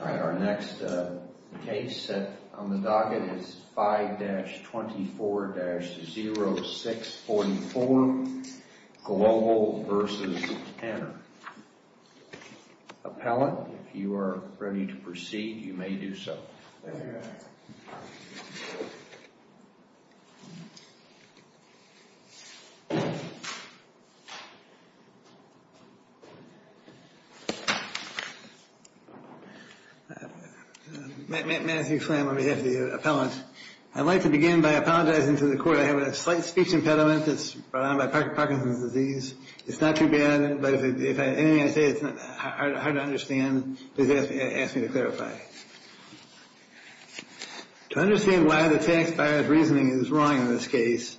All right, our next case on the docket is 5-24-0644, Global v. Tanner. Appellant, if you are ready to proceed, you may do so. Matthew Slam on behalf of the appellant, I'd like to begin by apologizing to the court. I have a slight speech impediment that's brought on by Parkinson's disease. It's not too bad, but if anything I say is hard to understand, please ask me to clarify. To understand why the tax buyer's reasoning is wrong in this case,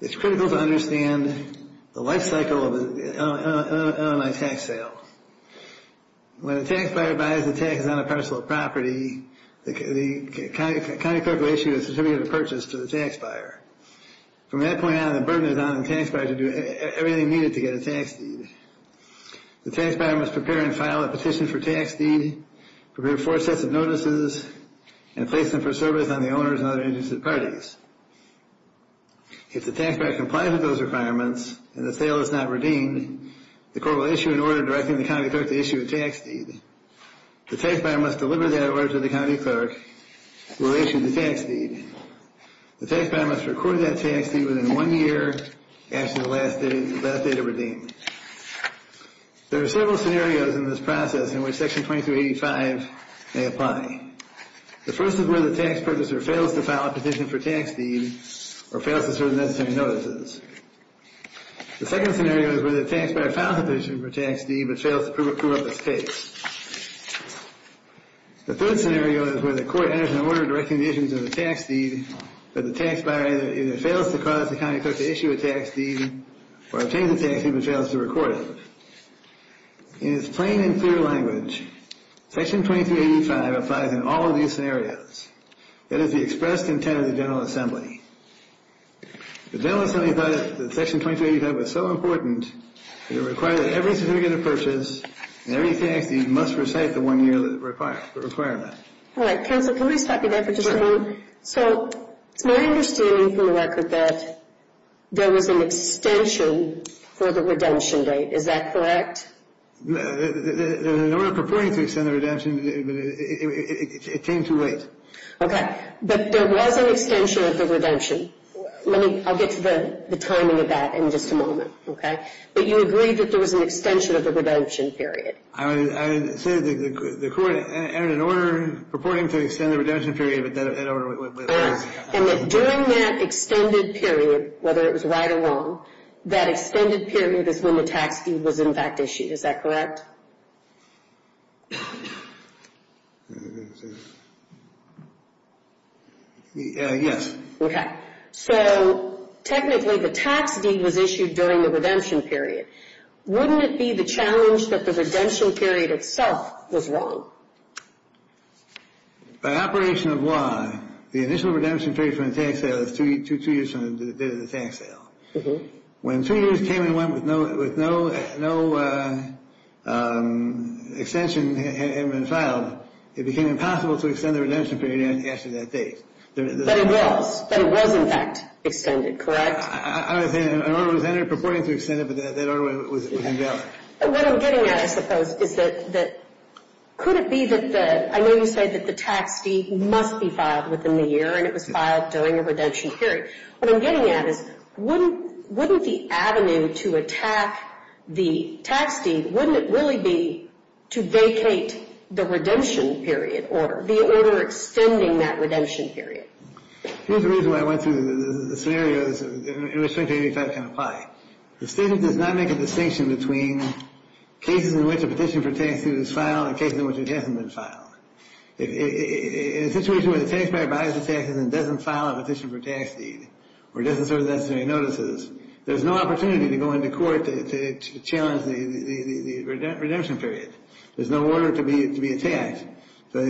it's critical to understand the life cycle of an LMI tax sale. When a tax buyer buys a tax on a parcel of property, the county clerk will issue a certificate of purchase to the tax buyer. From that point on, the burden is on the tax buyer to do everything needed to get a tax deed. The tax buyer must prepare and file a petition for tax deed, prepare four sets of notices, and place them for service on the owners and other interested parties. If the tax buyer complies with those requirements and the sale is not redeemed, the court will issue an order directing the county clerk to issue a tax deed. The tax buyer must deliver that order to the county clerk who will issue the tax deed. The tax buyer must record that tax deed within one year after the last date of redeeming. There are several scenarios in this process in which Section 2285 may apply. The first is where the tax purchaser fails to file a petition for tax deed or fails to serve the necessary notices. The second scenario is where the tax buyer files a petition for tax deed but fails to prove up his case. The third scenario is where the court enters an order directing the issuance of a tax deed, but the tax buyer either fails to cause the county clerk to issue a tax deed or obtains a tax deed but fails to record it. In its plain and clear language, Section 2285 applies in all of these scenarios. That is the expressed intent of the General Assembly. The General Assembly thought that Section 2285 was so important that it required that every certificate of purchase and every tax deed must recite the one year requirement. All right, counsel, can we stop you there for just a moment? So, it's my understanding from the record that there was an extension for the redemption date. Is that correct? In order of purporting to extend the redemption, it came too late. Okay, but there was an extension of the redemption. Let me, I'll get to the timing of that in just a moment, okay? But you agreed that there was an extension of the redemption period. I said that the court entered an order purporting to extend the redemption period, but that order... And that during that extended period, whether it was right or wrong, that extended period is when the tax deed was in fact issued. Is that correct? Yes. So, technically, the tax deed was issued during the redemption period. Wouldn't it be the challenge that the redemption period itself was wrong? By operation of law, the initial redemption period for the tax sale is two years from the date of the tax sale. When two years came and went with no extension had been filed, it became impossible to extend the redemption period after that date. But it was. But it was, in fact, extended, correct? I was saying an order was entered purporting to extend it, but that order was invalid. What I'm getting at, I suppose, is that could it be that the, I know you said that the tax deed must be filed within the year, and it was filed during a redemption period. What I'm getting at is wouldn't the avenue to attack the tax deed, wouldn't it really be to vacate the redemption period, or the order extending that redemption period? Here's the reason why I went through the scenarios in which Section 85 can apply. The statement does not make a distinction between cases in which a petition for tax deed is filed and cases in which it hasn't been filed. In a situation where the taxpayer buys the taxes and doesn't file a petition for tax deed, or doesn't serve the necessary notices, there's no opportunity to go into court to challenge the redemption period. There's no order to be attacked. But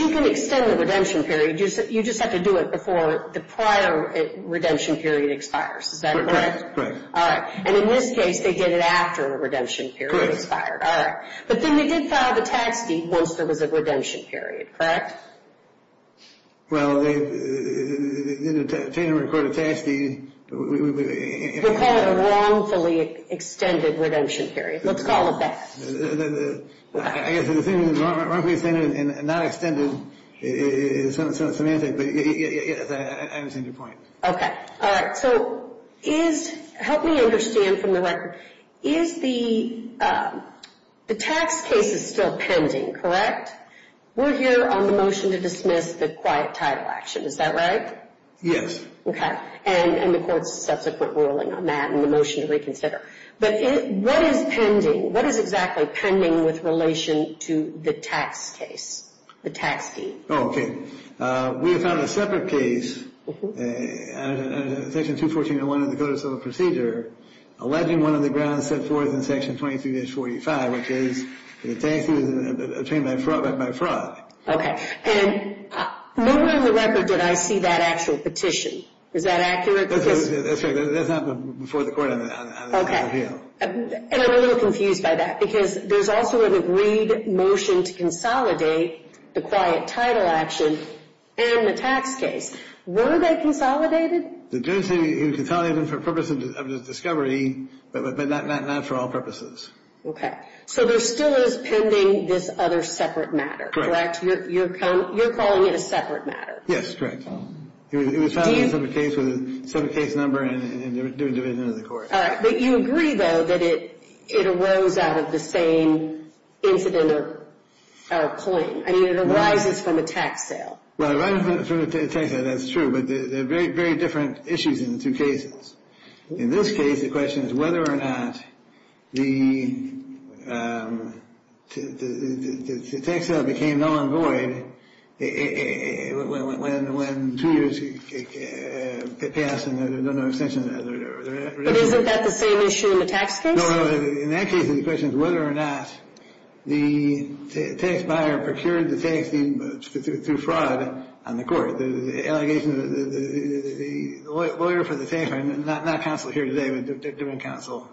you can extend the redemption period. You just have to do it before the prior redemption period expires. Is that correct? Correct. All right. And in this case, they did it after the redemption period expired. All right. But then they did file the tax deed once there was a redemption period, correct? Well, they didn't record a tax deed. We'll call it a wrongfully extended redemption period. Let's call it that. I guess the thing is wrongfully extended and not extended is semantic. But yes, I understand your point. Okay. All right. So help me understand from the record, is the tax case is still pending, correct? We're here on the motion to dismiss the quiet title action. Is that right? Okay. And the court's subsequent ruling on that and the motion to reconsider. But what is pending? What is exactly pending with relation to the tax case, the tax deed? Oh, okay. We have found a separate case, Section 214.1 of the Code of Civil Procedure, alleging one of the grounds set forth in Section 23-45, which is that the tax deed was obtained by fraud. Okay. And nowhere on the record did I see that actual petition. Is that accurate? That's right. That's happened before the court on the appeal. And I'm a little confused by that because there's also an agreed motion to consolidate the quiet title action and the tax case. Were they consolidated? The judge said he consolidated them for purposes of discovery, but not for all purposes. Okay. So there still is pending this other separate matter, correct? You're calling it a separate matter? Yes, correct. It was found in a separate case with a separate case number and the individual of the court. All right. But you agree, though, that it arose out of the same incident or claim? I mean, it arises from a tax sale. Well, it arises from a tax sale. That's true. But they're very, very different issues in the two cases. In this case, the question is whether or not the tax sale became null and void when two years passed and there's no extension. But isn't that the same issue in the tax case? No, no. In that case, the question is whether or not the tax buyer procured the tax through fraud on the court. The allegation that the lawyer for the tax buyer, not counsel here today, but different counsel,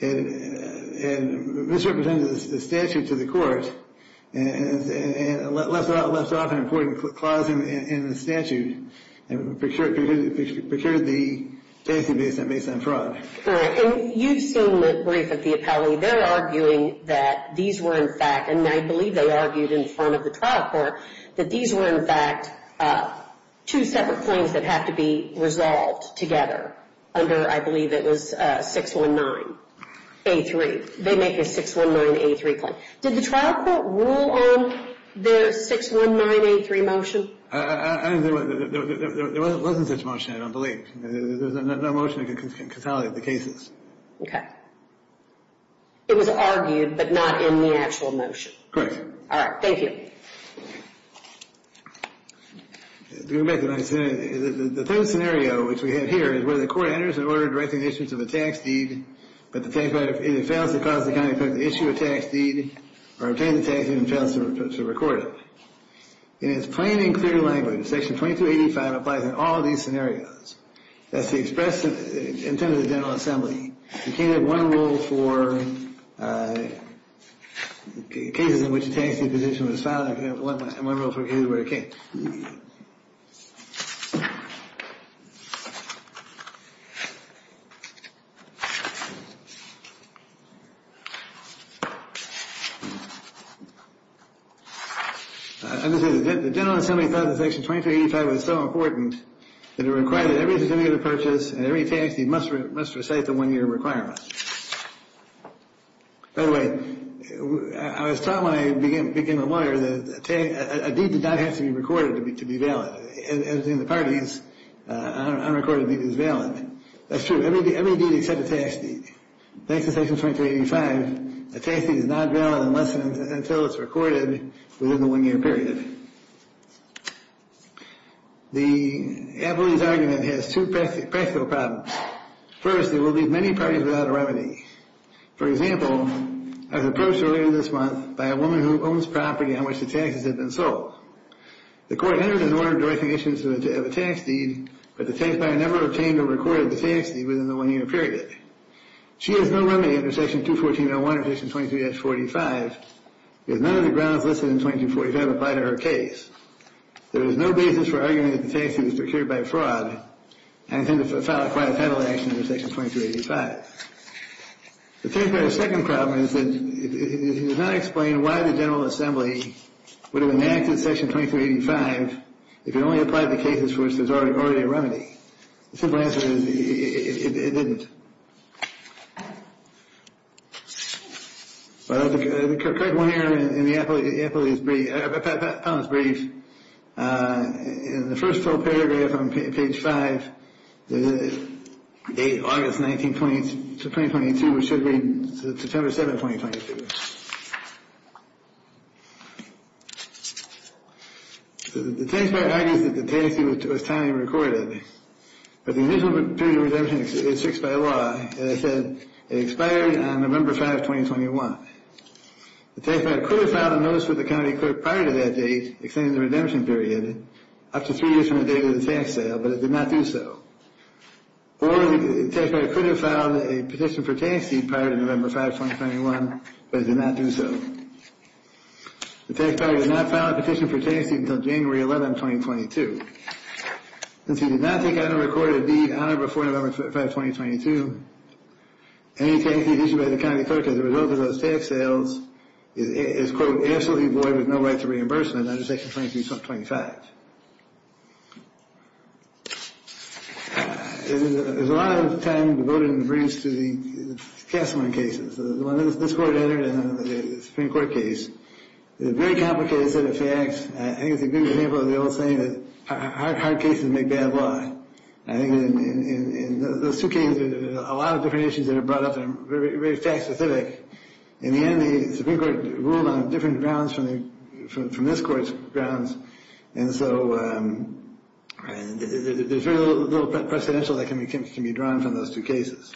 misrepresented the statute to the court and left off an important clause in the statute and procured the tax based on fraud. All right. And you've seen the brief of the appellee. They're arguing that these were, in fact, and I believe they argued in front of the trial court, that these were, in fact, two separate claims that have to be resolved together under, I believe it was 619A3. They make a 619A3 claim. Did the trial court rule on the 619A3 motion? I don't think it was. There wasn't such a motion, I don't believe. There's no motion that can consolidate the cases. Okay. It was argued, but not in the actual motion. Correct. All right. Thank you. Going back to what I said, the third scenario, which we have here, is where the court enters an order directing the issuance of a tax deed, but the tax buyer either fails to cause the county to issue a tax deed or obtain the tax deed and fails to record it. In its plain and clear language, Section 2285 applies in all these scenarios. That's the express intent of the General Assembly. You can't have one rule for cases in which a tax deed position was filed. You can't have one rule for cases where it can't. I'm just going to say, the General Assembly thought that Section 2285 was so important that it required that every certificate of purchase and every tax deed must recite the one-year requirement. By the way, I was taught when I became a lawyer that a deed did not have to be recorded to be valid. In the parties, unrecorded deed is valid. That's true. Every deed except a tax deed. Thanks to Section 2285, a tax deed is not valid unless and until it's recorded within the one-year period. The Appellee's Argument has two practical problems. First, it will leave many parties without a remedy. For example, I was approached earlier this month by a woman who owns property on which the taxes had been sold. The court entered an order directing issuance of a tax deed, but the taxpayer never obtained or recorded the tax deed within the one-year period. She has no remedy under Section 214.01 or Section 22-45, because none of the grounds listed in 22-45 apply to her case. There is no basis for arguing that the tax deed was procured by fraud and intended to file a quiet penalty action under Section 2285. The taxpayer's second problem is that it does not explain why the General Assembly would have enacted Section 2285 if it only applied to cases for which there's already a remedy. The simple answer is it didn't. But I have to correct one error in the Appellee's brief. In the first full paragraph on page 5, August 19, 2022, which should read September 7, 2022. The taxpayer argues that the tax deed was timely and recorded, but the initial period of redemption is fixed by law. As I said, it expired on November 5, 2021. The taxpayer could have filed a notice with the county clerk prior to that date, extending the redemption period up to three years from the date of the tax sale, but it did not do so. Or the taxpayer could have filed a petition for tax deed prior to November 5, 2021, but it did not do so. The taxpayer did not file a petition for tax deed until January 11, 2022. Since he did not take out and record a deed on or before November 5, 2022, any tax deed made by the county clerk as a result of those tax sales is, quote, absolutely void with no right to reimbursement under section 23, sub 25. There's a lot of time devoted in the briefs to the Kasselman cases, the one that this Court entered and the Supreme Court case. It's a very complicated set of facts. I think it's a good example of the old saying that hard cases make bad law. I think in those two cases, there's a lot of different issues that are brought up that are very fact specific. In the end, the Supreme Court ruled on different grounds from this Court's grounds. And so there's very little precedential that can be drawn from those two cases.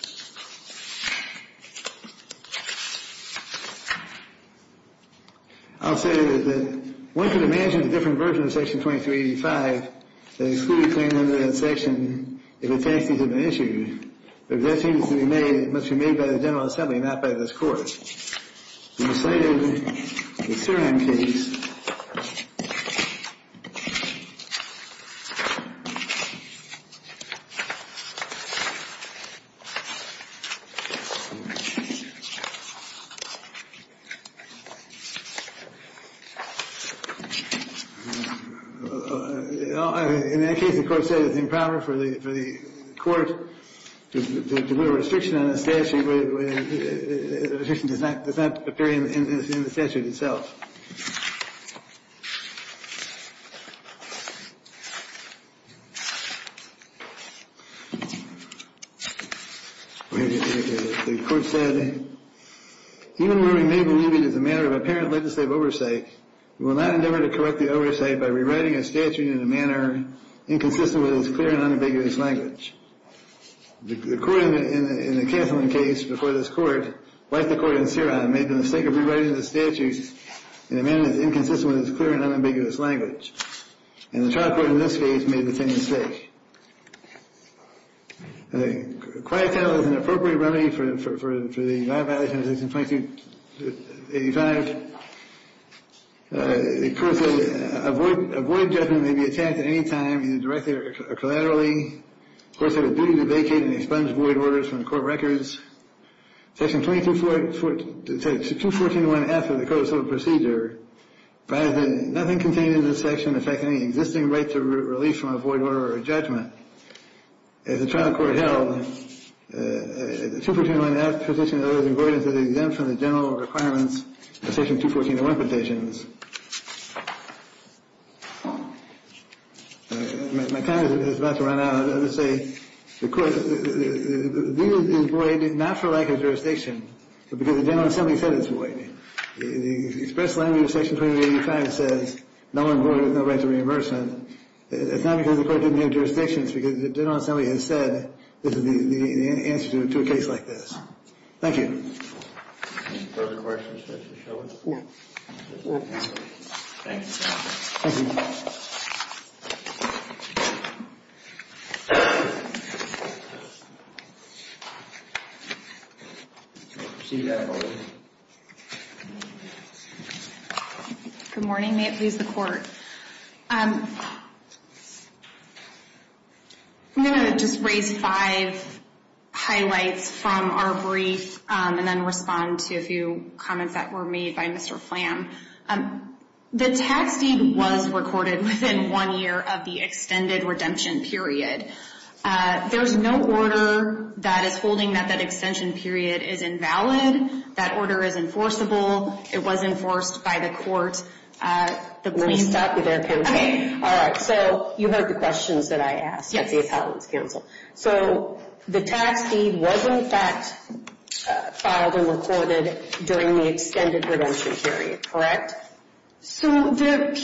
I'll say that one can imagine a different version of section 2385 that excluded claim under that section if a tax deed had been issued. If that deed is to be made, it must be made by the General Assembly, not by this Court. In the case that the Court cited, the Surin case, in that case, the Court cited the impounder for the Court to deliver a restriction on a statute that does not appear in the statute itself. The Court said, even though we may believe it is a matter of apparent legislative oversight, we will not endeavor to correct the oversight by rewriting a statute in a manner inconsistent with its clear and unambiguous language. The Court in the Cancelling case before this Court, like the Court in Surin, made the mistake of rewriting the statute in a manner inconsistent with its clear and unambiguous language. And the trial court in this case made the same mistake. The quiet title is an appropriate remedy for the non-violation of section 2385. The Court said, a void judgment may be attacked at any time, either directly or collaterally. The Court said it is a duty to vacate and expunge void orders from the Court records. Section 214.1f of the Code of Civil Procedure provides that nothing contained in this section affects any existing right to relief from a void order or a judgment. As the trial court held, 214.1f positions those avoidance as exempt from the general requirements of section 214.1 petitions. My time is about to run out. I would say the Court, these are void not for lack of jurisdiction, but because the General Assembly said it's void. The express language of section 2385 says no one void with no right to reimbursement. It's not because the Court didn't have jurisdictions, because the General Assembly has said this is the answer to a case like this. Thank you. Any further questions for Mr. Shelby? Good morning. May it please the Court. I'm going to just raise five highlights from our brief and then respond to a few comments that were made by Mr. Flam. The tax deed was recorded within one year of the extended redemption period. There's no order that is holding that that extension period is invalid. That order is enforceable. It was enforced by the Court. Let me stop you there, Kim. All right. So you heard the questions that I asked at the Appellate's Council. So the tax deed was in fact filed and recorded during the extended redemption period, correct? So the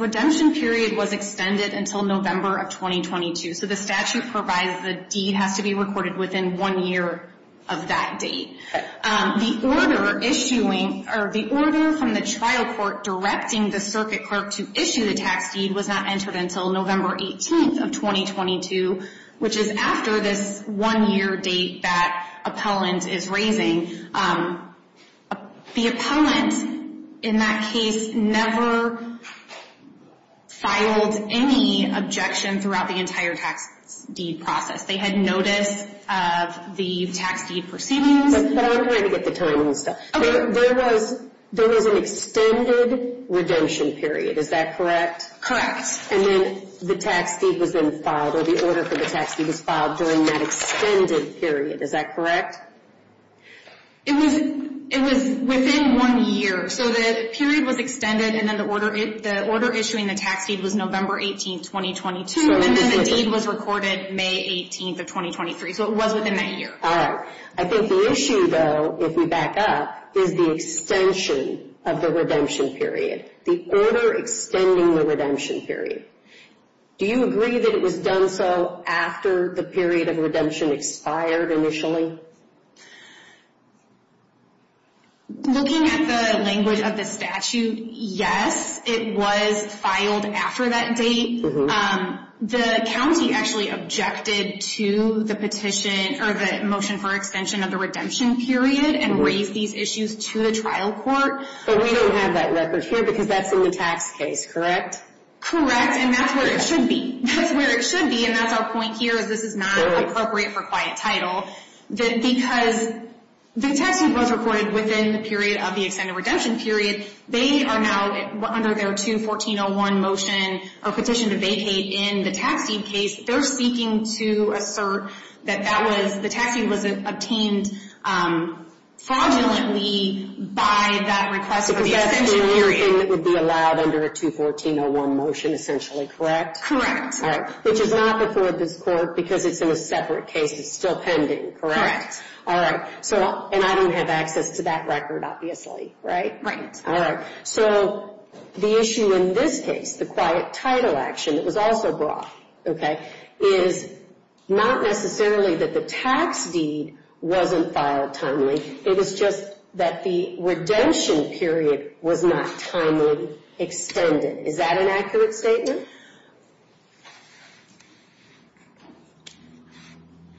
redemption period was extended until November of 2022. So the statute provides the deed has to be recorded within one year of that date. The order issuing or the order from the trial court directing the circuit clerk to issue the tax deed was not entered until November 18th of 2022, which is after this one-year date that Appellant is raising. The Appellant in that case never filed any objection throughout the entire tax deed process. They had notice of the tax deed proceedings. But I'm trying to get the timing. There was an extended redemption period. Is that correct? And then the tax deed was then filed or the order for the tax deed was filed during that extended period. Is that correct? It was within one year. So the period was extended and then the order issuing the tax deed was November 18th, 2022. And then the deed was recorded May 18th of 2023. So it was within that year. All right. I think the issue though, if we back up, is the extension of the redemption period. The order extending the redemption period. Do you agree that it was done so after the period of redemption expired initially? Looking at the language of the statute, yes, it was filed after that date. The county actually objected to the petition or the motion for extension of the redemption period and raised these issues to the trial court. But we don't have that record here because that's in the tax case, correct? And that's where it should be. That's where it should be. And that's our point here is this is not appropriate for quiet title. Because the tax deed was recorded within the period of the extended redemption period. They are now under their 214-01 motion or petition to vacate in the tax deed case. They're seeking to assert that the tax deed was obtained fraudulently by that request. Because that's the year in that would be allowed under a 214-01 motion essentially, correct? Correct. All right. Which is not before this court because it's in a separate case. It's still pending, correct? Correct. All right. And I don't have access to that record, obviously, right? Right. So the issue in this case, the quiet title action that was also brought, okay, is not necessarily that the tax deed wasn't filed timely. It was just that the redemption period was not timely extended. Is that an accurate statement?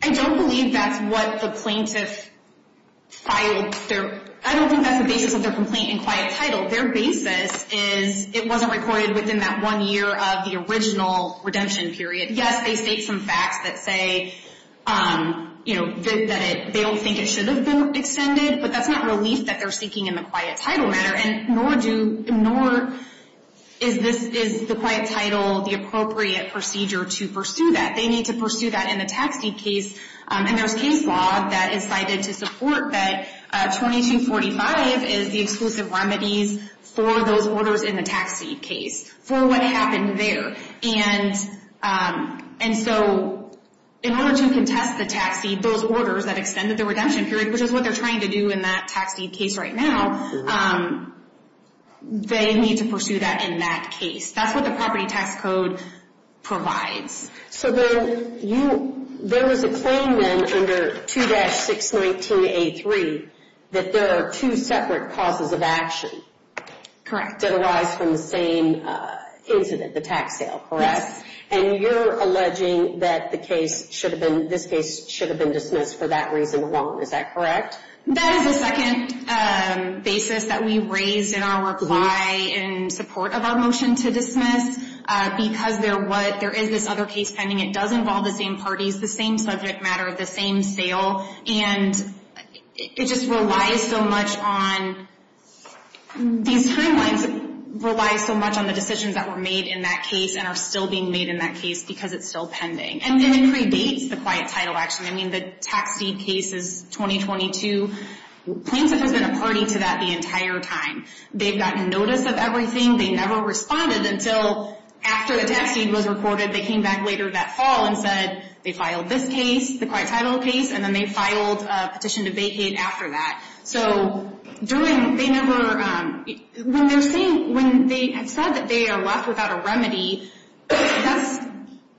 I don't believe that's what the plaintiff filed. I don't think that's the basis of their complaint in quiet title. Their basis is it wasn't recorded within that one year of the original redemption period. Yes, they state some facts that say, you know, that they don't think it should have been extended. But that's not relief that they're seeking in the quiet title matter. And nor is the quiet title the appropriate procedure to pursue that. They need to pursue that in the tax deed case. And there's case law that is cited to support that 2245 is the exclusive remedies for those orders in the tax deed case for what happened there. And so in order to contest the tax deed, those orders that extended the redemption period, which is what they're trying to do in that tax deed case right now, they need to pursue that in that case. That's what the property tax code provides. So there was a claim then under 2-619A3 that there are two separate causes of action. Correct. That arise from the same incident, the tax sale, correct? And you're alleging that the case should have been, this case should have been dismissed for that reason alone, is that correct? That is a second basis that we raised in our reply in support of our motion to dismiss. Because there is this other case pending, it does involve the same parties, the same subject matter of the same sale. And it just relies so much on these timelines, relies so much on the decisions that were made in that case and are still being made in that case because it's still pending. And then it predates the quiet title action. I mean, the tax deed case is 2022. Plaintiff has been a party to that the entire time. They've gotten notice of everything. They never responded until after the tax deed was recorded. They came back later that fall and said they filed this case, the quiet title case, and then they filed a petition to vacate after that. So during, they never, when they're saying, when they have said that they are left without a remedy, that's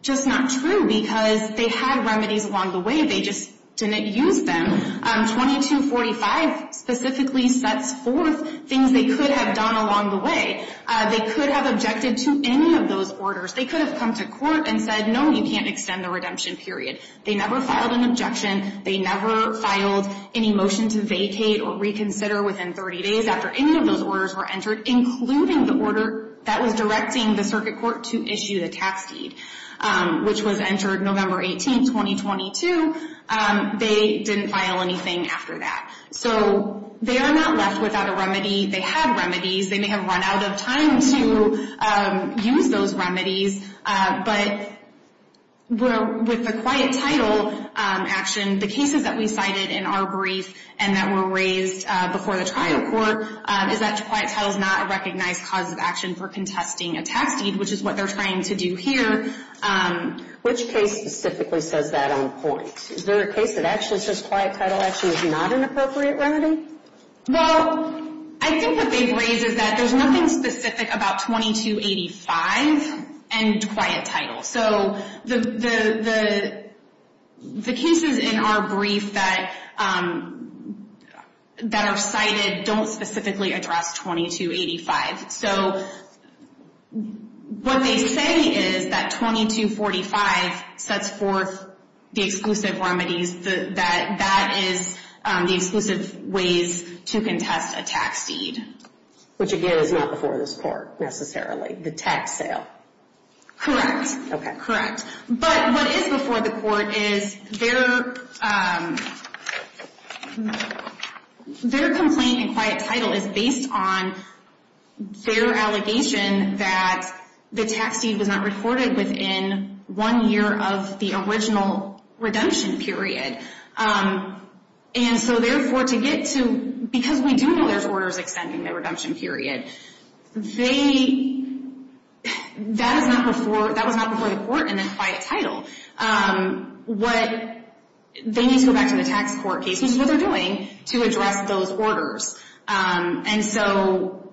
just not true because they had remedies along the way. They just didn't use them. 2245 specifically sets forth things they could have done along the way. They could have objected to any of those orders. They could have come to court and said, no, you can't extend the redemption period. They never filed an objection. They never filed any motion to vacate or reconsider within 30 days after any of those orders were entered, including the order that was directing the circuit court to issue the tax deed, which was entered November 18, 2022. They didn't file anything after that. So they are not left without a remedy. They have remedies. They may have run out of time to use those remedies. But with the quiet title action, the cases that we cited in our brief and that were raised before the trial court is that quiet title is not a recognized cause of action for contesting a tax deed, which is what they're trying to do here. Which case specifically says that on point? Is there a case that actually says quiet title action is not an appropriate remedy? Well, I think what they've raised is that there's nothing specific about 2285 and quiet title. So the cases in our brief that are cited don't specifically address 2285. So what they say is that 2245 sets forth the exclusive remedies that is the exclusive ways to contest a tax deed. Which again is not before this court necessarily, the tax sale. Okay. Correct. But what is before the court is their complaint in quiet title is based on their allegation that the tax deed was not recorded within one year of the original redemption period. And so therefore to get to, because we do know there's orders extending the redemption period, that was not before the court and then quiet title. They need to go back to the tax court case, which is what they're doing, to address those orders. And so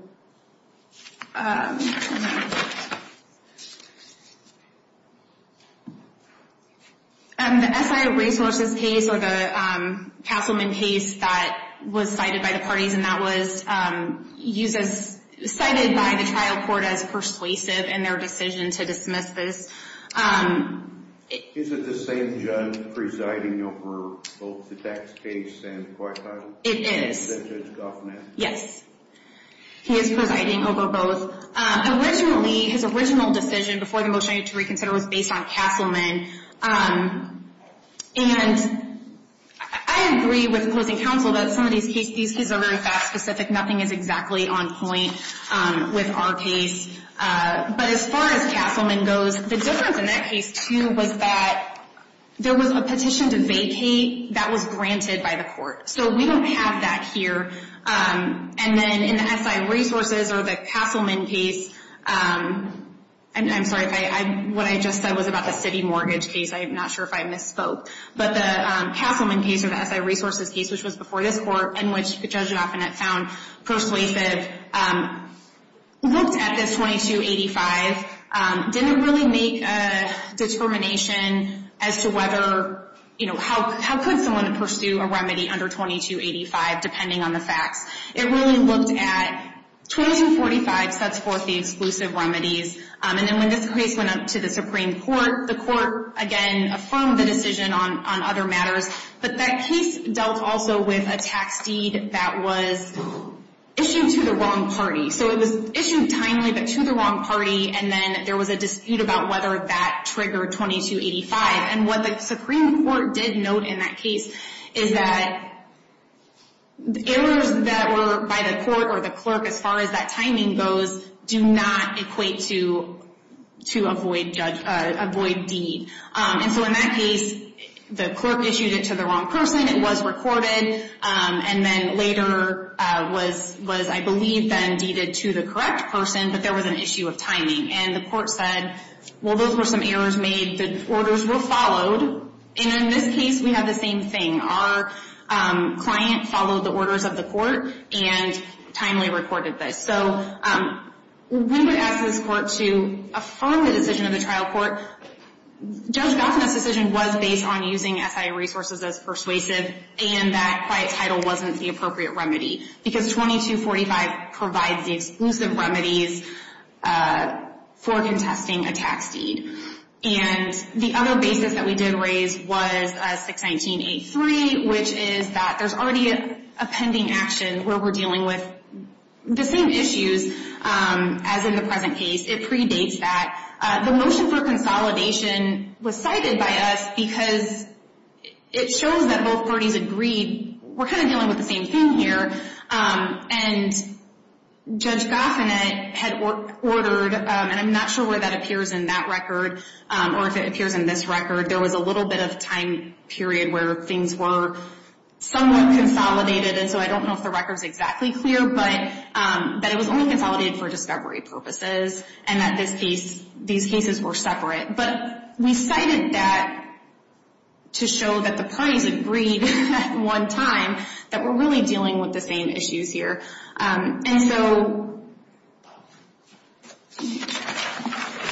the SI resources case or the councilman case that was cited by the parties, and that was cited by the trial court as persuasive in their decision to dismiss this. Is it the same judge presiding over both the tax case and quiet title? It is. Yes. He is presiding over both. Originally, his original decision before the motion to reconsider was based on Castleman. And I agree with closing counsel that some of these cases are very fact specific. Nothing is exactly on point with our case. But as far as Castleman goes, the difference in that case too was that there was a petition to vacate that was granted by the court. So we don't have that here. And then in the SI resources or the Castleman case, I'm sorry, what I just said was about the city mortgage case. I'm not sure if I misspoke. But the Castleman case or the SI resources case, which was before this court and which the judge often had found persuasive, looked at this 2285, didn't really make a determination as to whether, you know, how could someone pursue a remedy under 2285, depending on the facts. It really looked at 2245 sets forth the exclusive remedies. And then when this case went up to the Supreme Court, the court, again, affirmed the decision on other matters. But that case dealt also with a tax deed that was issued to the wrong party. So it was issued timely but to the wrong party. And then there was a dispute about whether that triggered 2285. And what the Supreme Court did note in that case is that errors that were by the court or the clerk, as far as that timing goes, do not equate to avoid deed. And so in that case, the clerk issued it to the wrong person. It was recorded. And then later was, I believe, then deeded to the correct person. But there was an issue of timing. And the court said, well, those were some errors made. The orders were followed. And in this case, we have the same thing. Our client followed the orders of the court and timely recorded this. So we would ask this court to affirm the decision of the trial court. Judge Goffman's decision was based on using SIA resources as persuasive. And that quiet title wasn't the appropriate remedy. Because 2245 provides the exclusive remedies for contesting a tax deed. And the other basis that we did raise was 619.83, which is that there's already a pending action where we're dealing with the same issues as in the present case. It predates that. The motion for consolidation was cited by us because it shows that both parties agreed we're kind of dealing with the same thing here. And Judge Goffman had ordered, and I'm not sure where that appears in that record, or if it appears in this record, there was a little bit of time period where things were somewhat consolidated. And so I don't know if the record's exactly clear, but that it was only consolidated for discovery purposes. And that these cases were separate. But we cited that to show that the parties agreed at one time that we're really dealing with the same issues here. And so...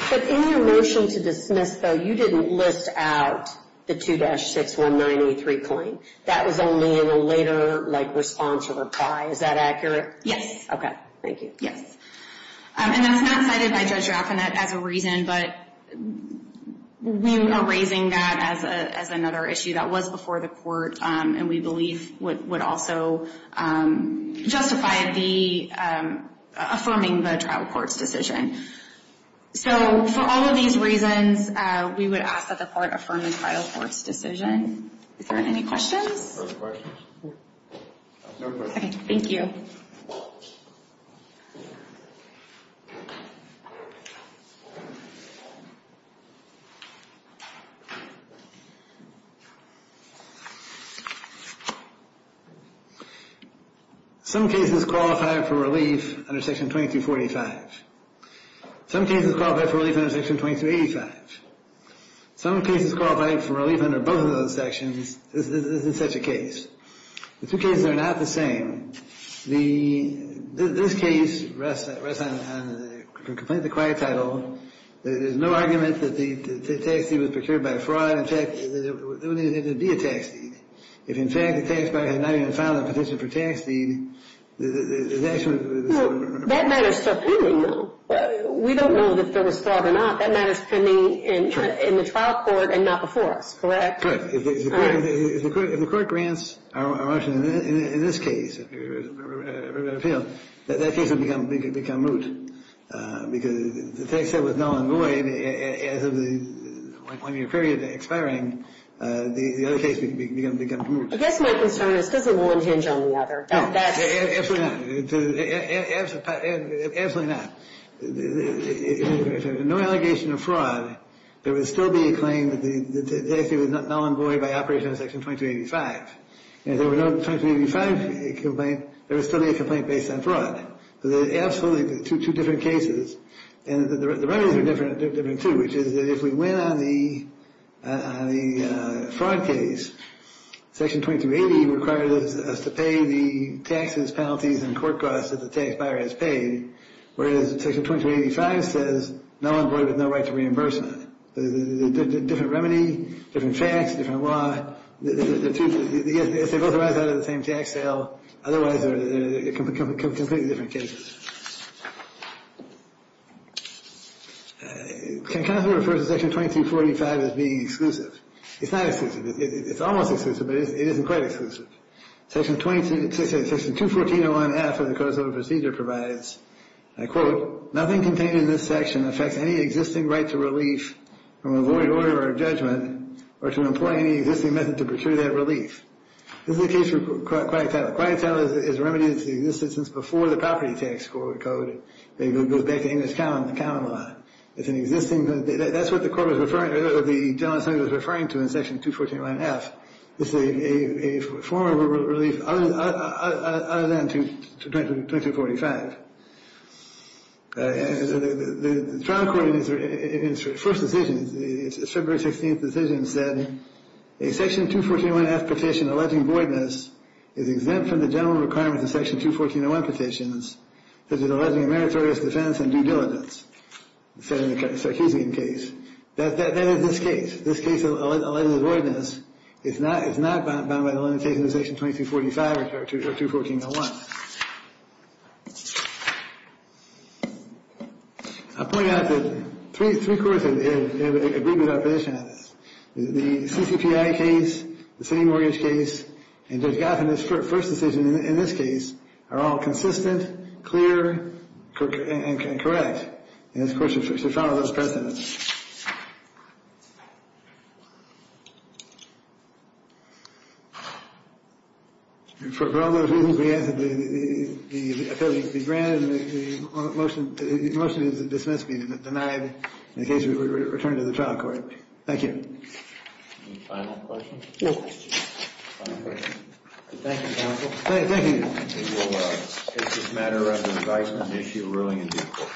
But in your motion to dismiss, though, you didn't list out the 2-619.83 claim. That was only in a later response or reply. Is that accurate? Yes. Okay, thank you. Yes. And that's not cited by Judge Raffinette as a reason, but we are raising that as another issue that was before the court and we believe would also justify affirming the trial court's decision. So for all of these reasons, we would ask that the court affirm the trial court's decision. Is there any questions? Okay, thank you. Some cases qualify for relief under Section 2245. Some cases qualify for relief under Section 2285. Some cases qualify for relief under both of those sections. This isn't such a case. The two cases are not the same. This case rests on the complaint of the quiet title. There's no argument that the tax deed was procured by fraud. In fact, it would need to be a tax deed. If, in fact, the tax buyer has not even filed a petition for tax deed, That matters to a penalty, though. We don't know if there was fraud or not. That matters to me in the trial court and not before us, correct? Correct. If the court grants a Russian, in this case, an appeal, that case would become moot because the tax debt was null and void as of the one-year period expiring. The other case would become moot. I guess my concern is because of one hinge on the other. No, absolutely not. Absolutely not. If there's no allegation of fraud, there would still be a claim that the tax deed was null and void by operation of Section 2285. And if there were no 2285 complaint, there would still be a complaint based on fraud. There are absolutely two different cases. And the remedies are different, too, which is that if we win on the fraud case, Section 2280 requires us to pay the taxes, penalties, and court costs that the tax buyer has paid, whereas Section 2285 says null and void with no right to reimbursement. Different remedy, different facts, different law. If they both arise out of the same tax sale, otherwise, they're completely different cases. Can counsel refer to Section 2245 as being exclusive? It's not exclusive. It's almost exclusive, but it isn't quite exclusive. Section 214.01f of the Code of Civil Procedure provides, I quote, nothing contained in this section affects any existing right to relief from a void order or judgment or to employ any existing method to procure that relief. This is the case for quiet title. Quiet title is remedied to the existence before the property tax. It goes back to English common law. It's an existing—that's what the court was referring— the general assembly was referring to in Section 214.1f. It's a form of relief other than 2245. The trial court in its first decision, its February 16th decision, said a Section 214.1f petition alleging voidness is exempt from the general requirements of Section 214.01 petitions such as alleging a meritorious defense and due diligence, said in the Sarkeesian case. That is this case. This case alleging voidness is not bound by the limitation of Section 2245 or 214.01. I'll point out that three courts have agreed with our petition on this. The CCPI case, the city mortgage case, and Judge Gotham's first decision in this case are all consistent, clear, and correct. And this court should follow those precedents. For all those reasons, we ask that the affiliates be granted the motion to dismiss being denied in the case we return to the trial court. Thank you. Any final questions? No. Thank you, counsel. Thank you. It's just a matter of advice and an issue of ruling and due course.